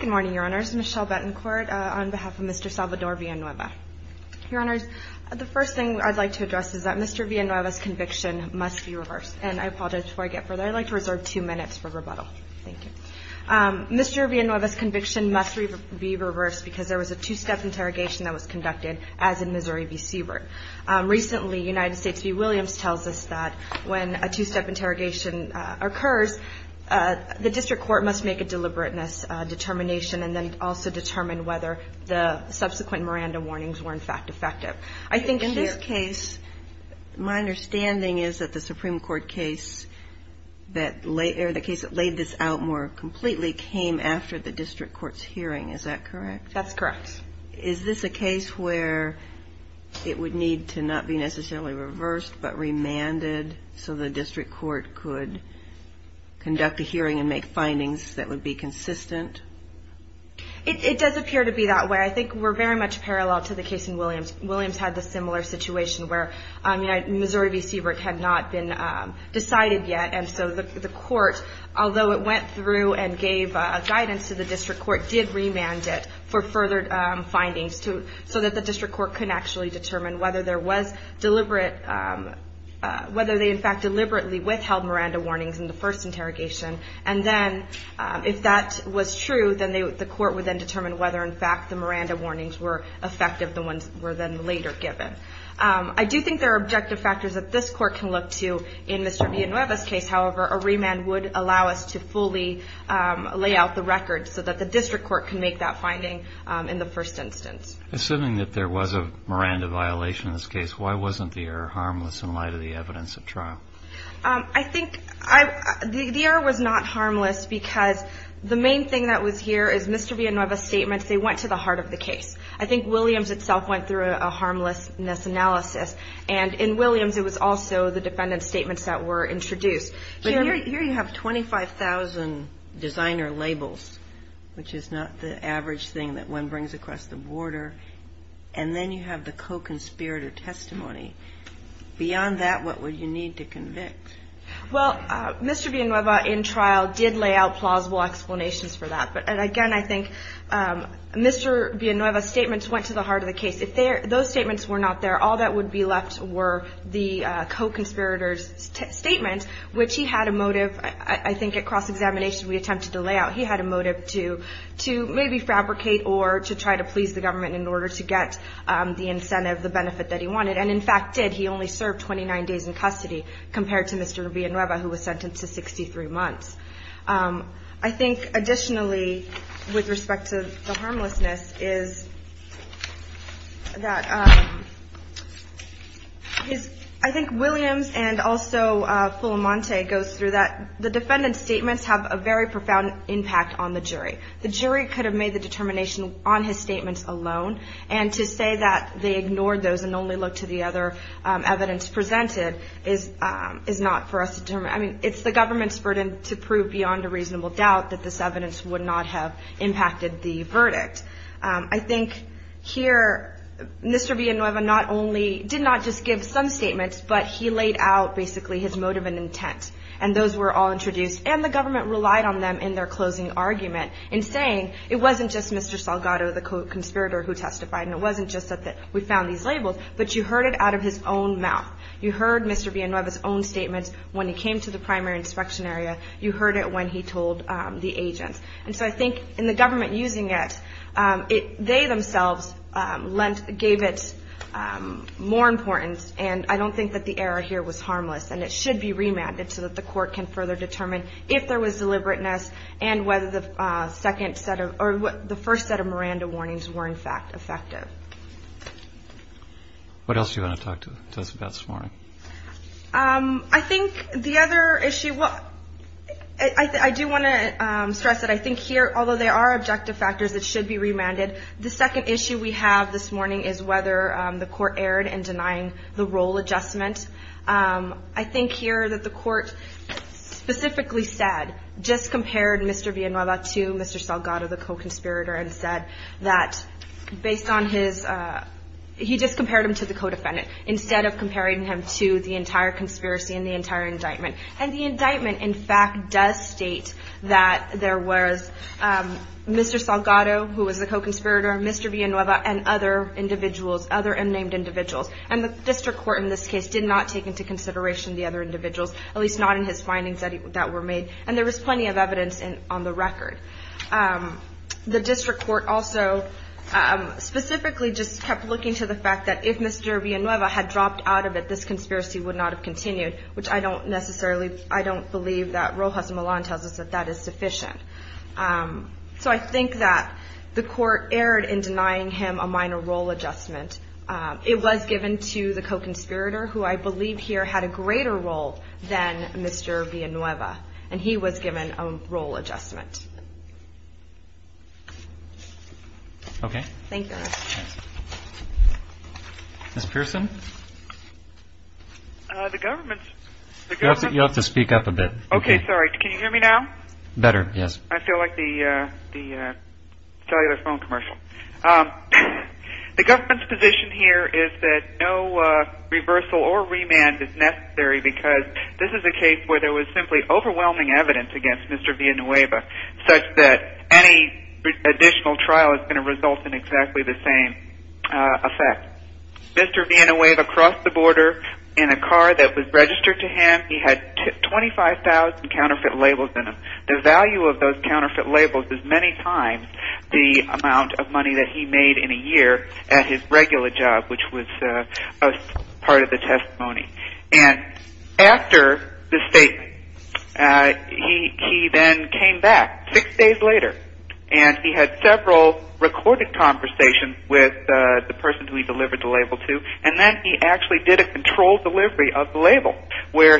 Good morning, your honors. Michelle Betancourt on behalf of Mr. Salvador Villanueva. Your honors, the first thing I'd like to address is that Mr. Villanueva's conviction must be reversed. And I apologize before I get further. I'd like to reserve two minutes for rebuttal. Thank you. Mr. Villanueva's conviction must be reversed because there was a two-step interrogation that was conducted, as in Missouri v. Siebert. Recently, United States v. Williams tells us that when a two-step interrogation occurs, the district court must make a deliberateness determination and then also determine whether the subsequent Miranda warnings were, in fact, effective. I think in this case, my understanding is that the Supreme Court case, or the case that laid this out more completely, came after the district court's hearing. Is that correct? That's correct. Is this a case where it would need to not be necessarily reversed, but remanded so the district court could conduct a hearing and make findings that would be consistent? It does appear to be that way. I think we're very much parallel to the case in Williams. Williams had the similar situation where Missouri v. Siebert had not been decided yet. And so the court, although it went through and gave guidance to the district court, did remand it for further findings so that the district court could actually determine whether they, in fact, deliberately withheld Miranda warnings in the first interrogation. And then if that was true, then the court would then determine whether, in fact, the Miranda warnings were effective, the ones that were then later given. I do think there are objective factors that this court can look to in Mr. Villanueva's case. However, a remand would allow us to fully lay out the record so that the district court can make that finding in the first instance. Assuming that there was a Miranda violation in this case, why wasn't the error harmless in light of the evidence at trial? I think the error was not harmless because the main thing that was here is Mr. Villanueva's statements. They went to the heart of the case. I think Williams itself went through a harmlessness analysis. And in Williams, it was also the defendant's statements that were introduced. But here you have 25,000 designer labels, which is not the average thing that one brings across the border. And then you have the co-conspirator testimony. Beyond that, what would you need to convict? Well, Mr. Villanueva, in trial, did lay out plausible explanations for that. But again, I think Mr. Villanueva's statements went to the heart of the case. If those statements were not there, all that would be left were the co-conspirator's statement, which he had a motive, I think at cross-examination we attempted to lay out. He had a motive to maybe fabricate or to try to please the government in order to get the incentive, the benefit that he wanted. And in fact, did. He only served 29 days in custody compared to Mr. Villanueva, who was sentenced to 63 months. I think additionally, with respect to the harmlessness, I think Williams and also Fulamonte goes through that. The defendant's statements have a very profound impact on the jury. The jury could have made the determination on his statements alone. And to say that they ignored those and only looked to the other evidence presented is not for us to determine. I mean, it's the government's burden to prove beyond a reasonable doubt that this evidence would not have impacted the verdict. I think here Mr. Villanueva not only did not just give some statements, but he laid out basically his motive and intent, and those were all introduced. And the government relied on them in their closing argument in saying it wasn't just Mr. Salgado, the co-conspirator who testified, and it wasn't just that we found these labels, but you heard it out of his own mouth. You heard Mr. Villanueva's own statements when he came to the primary inspection area. You heard it when he told the agents. And so I think in the government using it, they themselves gave it more importance, and I don't think that the error here was harmless. And it should be remanded so that the court can further determine if there was deliberateness and whether the first set of Miranda warnings were in fact effective. What else do you want to talk to us about this morning? I think the other issue, I do want to stress that I think here, although there are objective factors that should be remanded, the second issue we have this morning is whether the court erred in denying the role adjustment. I think here that the court specifically said, just compared Mr. Villanueva to Mr. Salgado, the co-conspirator, and said that based on his, he just compared him to the co-defendant instead of comparing him to the entire conspiracy and the entire indictment. And the indictment, in fact, does state that there was Mr. Salgado, who was the co-conspirator, Mr. Villanueva, and other individuals, other unnamed individuals. And the district court in this case did not take into consideration the other individuals, at least not in his findings that were made. And there was plenty of evidence on the record. The district court also specifically just kept looking to the fact that if Mr. Villanueva had dropped out of it, this conspiracy would not have continued, which I don't necessarily, I don't believe that Rojas Milan tells us that that is sufficient. So I think that the court erred in denying him a minor role adjustment. It was given to the co-conspirator, who I believe here had a greater role than Mr. Villanueva, and he was given a role adjustment. Okay. Ms. Pearson? You'll have to speak up a bit. Okay. Sorry. Can you hear me now? Better, yes. I feel like the cellular phone commercial. The government's position here is that no reversal or remand is necessary because this is a case where there was simply overwhelming evidence against Mr. Villanueva, such that any additional trial is going to result in exactly the same effect. Mr. Villanueva crossed the border in a car that was registered to him. He had 25,000 counterfeit labels in him. The value of those counterfeit labels is many times the amount of money that he made in a year at his regular job, which was part of the testimony. And after the statement, he then came back six days later, and he had several recorded conversations with the person who he delivered the label to, and then he actually did a controlled delivery of the label, where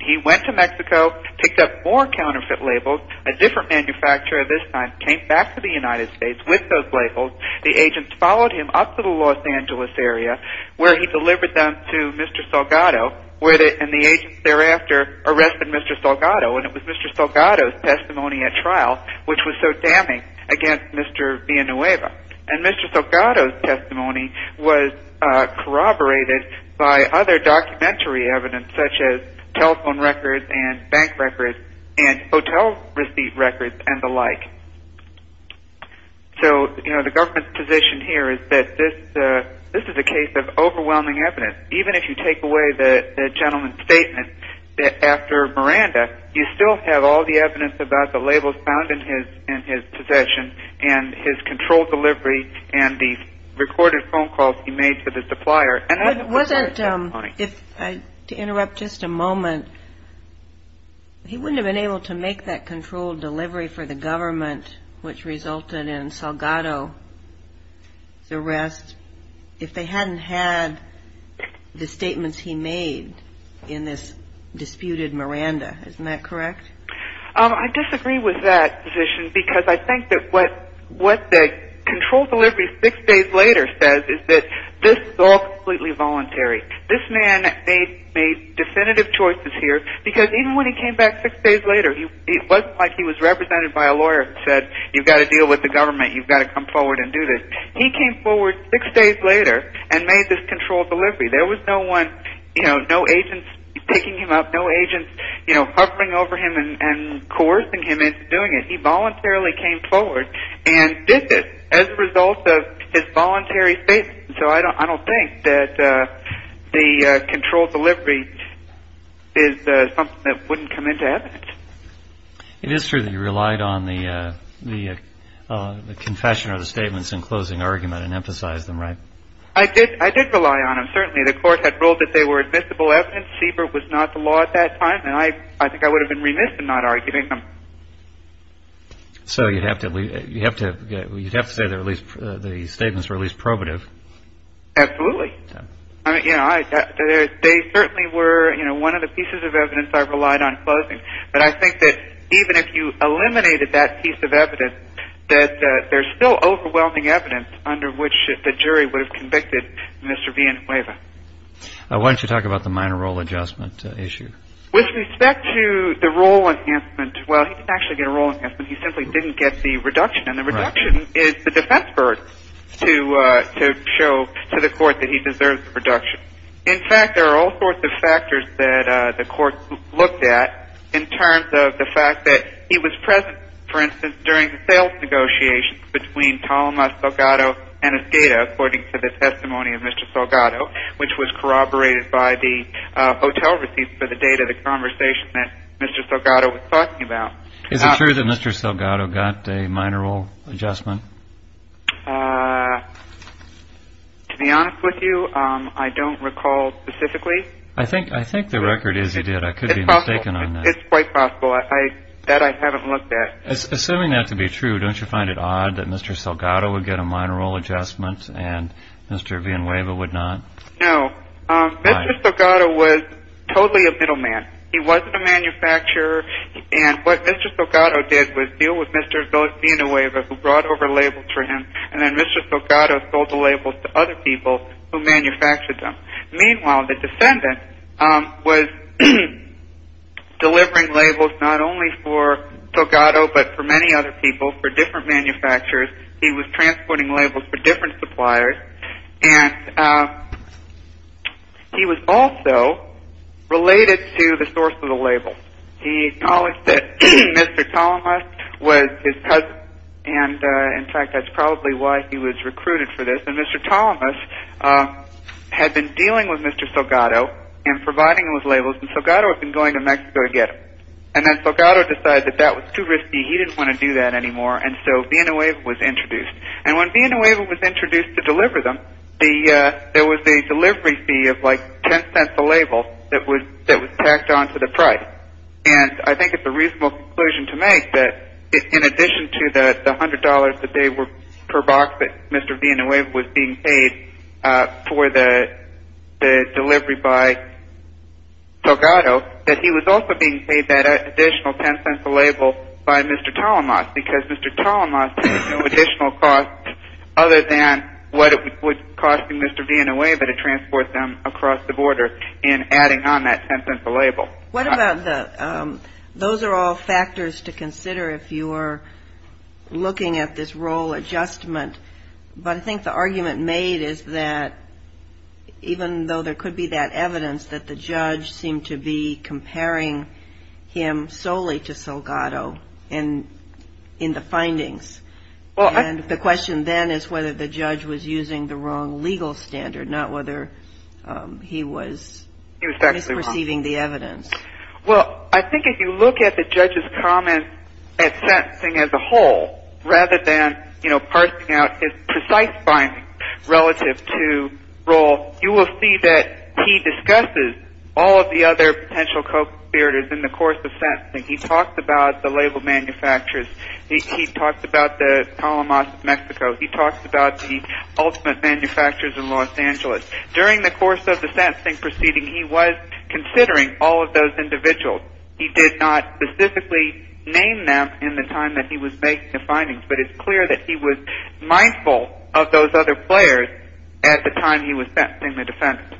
he went to Mexico, picked up more counterfeit labels, a different manufacturer this time, came back to the United States with those labels. The agents followed him up to the Los Angeles area, where he delivered them to Mr. Salgado, and the agents thereafter arrested Mr. Salgado. And it was Mr. Salgado's testimony at trial which was so damning against Mr. Villanueva. And Mr. Salgado's testimony was corroborated by other documentary evidence, such as telephone records and bank records and hotel receipt records and the like. So, you know, the government's position here is that this is a case of overwhelming evidence. Even if you take away the gentleman's statement after Miranda, you still have all the evidence about the labels found in his possession and his controlled delivery and the recorded phone calls he made to the supplier. And I don't think that's a good point. To interrupt just a moment, he wouldn't have been able to make that controlled delivery for the government, which resulted in Salgado's arrest, if they hadn't had the statements he made in this disputed Miranda. Isn't that correct? I disagree with that position because I think that what the controlled delivery six days later says is that this is all completely voluntary. This man made definitive choices here because even when he came back six days later, it wasn't like he was represented by a lawyer who said, you've got to deal with the government, you've got to come forward and do this. He came forward six days later and made this controlled delivery. There was no one, you know, no agents picking him up, no agents hovering over him and coercing him into doing it. He voluntarily came forward and did this as a result of his voluntary statement. So I don't think that the controlled delivery is something that wouldn't come into evidence. It is true that you relied on the confession or the statements in closing argument and emphasized them, right? I did rely on them, certainly. The court had ruled that they were admissible evidence. CBER was not the law at that time, and I think I would have been remiss in not arguing them. So you'd have to say that at least the statements were at least probative. Absolutely. They certainly were one of the pieces of evidence I relied on in closing. But I think that even if you eliminated that piece of evidence, that there's still overwhelming evidence under which the jury would have convicted Mr. Villanueva. Why don't you talk about the minor role adjustment issue? With respect to the role enhancement, well, he didn't actually get a role enhancement. He simply didn't get the reduction, and the reduction is the defense burden to show to the court that he deserves a reduction. In fact, there are all sorts of factors that the court looked at in terms of the fact that he was present, for instance, during the sales negotiations between Ptolema, Salgado, and Escada, according to the testimony of Mr. Salgado, which was corroborated by the hotel receipts for the date of the conversation that Mr. Salgado was talking about. Is it true that Mr. Salgado got a minor role adjustment? To be honest with you, I don't recall specifically. I think the record is he did. I could be mistaken on that. It's quite possible. That I haven't looked at. Assuming that to be true, don't you find it odd that Mr. Salgado would get a minor role adjustment and Mr. Villanueva would not? No. Mr. Salgado was totally a middleman. He wasn't a manufacturer, and what Mr. Salgado did was deal with Mr. Villanueva, who brought over labels for him, and then Mr. Salgado sold the labels to other people who manufactured them. Meanwhile, the defendant was delivering labels not only for Salgado but for many other people, for different manufacturers. He was transporting labels for different suppliers, and he was also related to the source of the labels. He acknowledged that Mr. Salgado was his cousin, and in fact, that's probably why he was recruited for this. And Mr. Thomas had been dealing with Mr. Salgado and providing him with labels, and Salgado had been going to Mexico to get them. And then Salgado decided that that was too risky. He didn't want to do that anymore, and so Villanueva was introduced. And when Villanueva was introduced to deliver them, there was a delivery fee of like $0.10 a label that was tacked onto the price. And I think it's a reasonable conclusion to make that in addition to the $100 that they were per box that Mr. Villanueva was being paid for the delivery by Salgado, that he was also being paid that additional $0.10 a label by Mr. Thomas, because Mr. Thomas had no additional cost other than what it would cost Mr. Villanueva to transport them across the border in adding on that $0.10 a label. What about the – those are all factors to consider if you're looking at this role adjustment, but I think the argument made is that even though there could be that evidence, that the judge seemed to be comparing him solely to Salgado in the findings. And the question then is whether the judge was using the wrong legal standard, not whether he was misperceiving the evidence. Well, I think if you look at the judge's comments at sentencing as a whole, rather than, you know, parsing out his precise findings relative to role, you will see that he discusses all of the other potential co-conspirators in the course of sentencing. He talks about the label manufacturers. He talks about the Talamos of Mexico. He talks about the ultimate manufacturers in Los Angeles. During the course of the sentencing proceeding, he was considering all of those individuals. He did not specifically name them in the time that he was making the findings, but it's clear that he was mindful of those other players at the time he was sentencing the defendant.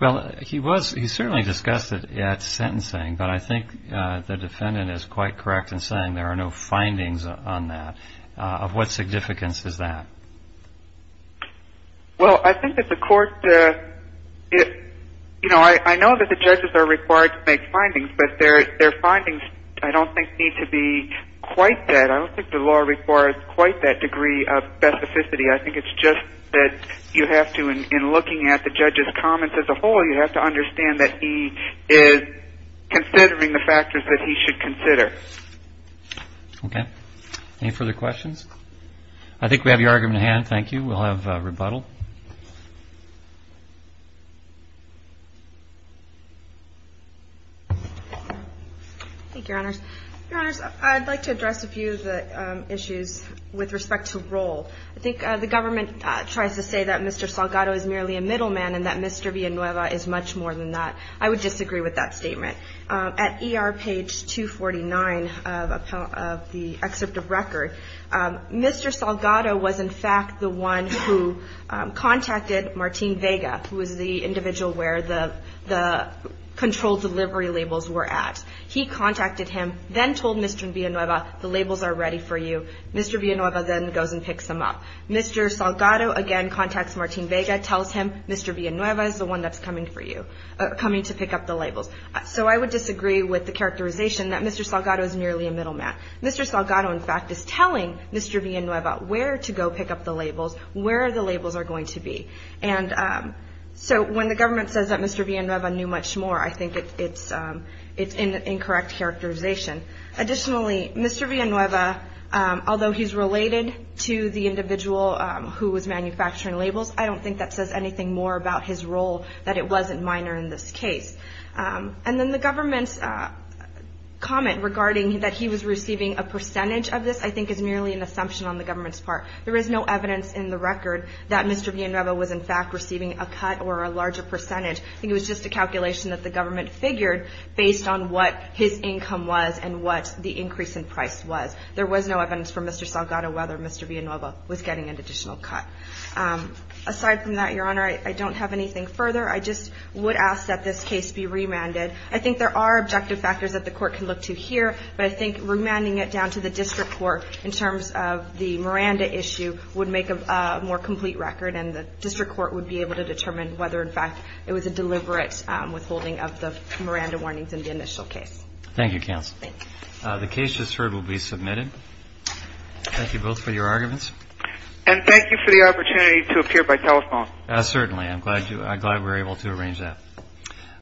Well, he was – he certainly discussed it at sentencing, but I think the defendant is quite correct in saying there are no findings on that. Of what significance is that? Well, I think that the court – you know, I know that the judges are required to make findings, but their findings I don't think need to be quite that – I don't think the law requires quite that degree of specificity. I think it's just that you have to, in looking at the judge's comments as a whole, you have to understand that he is considering the factors that he should consider. Okay. Any further questions? I think we have your argument at hand. Thank you. We'll have rebuttal. Thank you, Your Honors. Your Honors, I'd like to address a few of the issues with respect to role. I think the government tries to say that Mr. Salgado is merely a middleman and that Mr. Villanueva is much more than that. I would disagree with that statement. At ER page 249 of the excerpt of record, Mr. Salgado was in fact the one who contacted Martín Vega, who was the individual where the control delivery labels were at. He contacted him, then told Mr. Villanueva, the labels are ready for you. Mr. Villanueva then goes and picks them up. Mr. Salgado again contacts Martín Vega, tells him, Mr. Villanueva is the one that's coming to pick up the labels. So I would disagree with the characterization that Mr. Salgado is merely a middleman. Mr. Salgado, in fact, is telling Mr. Villanueva where to go pick up the labels, where the labels are going to be. And so when the government says that Mr. Villanueva knew much more, I think it's an incorrect characterization. Additionally, Mr. Villanueva, although he's related to the individual who was manufacturing labels, I don't think that says anything more about his role that it wasn't minor in this case. And then the government's comment regarding that he was receiving a percentage of this, I think, is merely an assumption on the government's part. There is no evidence in the record that Mr. Villanueva was, in fact, receiving a cut or a larger percentage. I think it was just a calculation that the government figured based on what his income was and what the increase in price was. There was no evidence from Mr. Salgado whether Mr. Villanueva was getting an additional cut. Aside from that, Your Honor, I don't have anything further. I just would ask that this case be remanded. I think there are objective factors that the Court can look to here, but I think remanding it down to the district court in terms of the Miranda issue would make a more complete record, and the district court would be able to determine whether, in fact, it was a deliberate withholding of the Miranda warnings in the initial case. Thank you, counsel. Thanks. The case just heard will be submitted. Thank you both for your arguments. And thank you for the opportunity to appear by telephone. Certainly. I'm glad we were able to arrange that.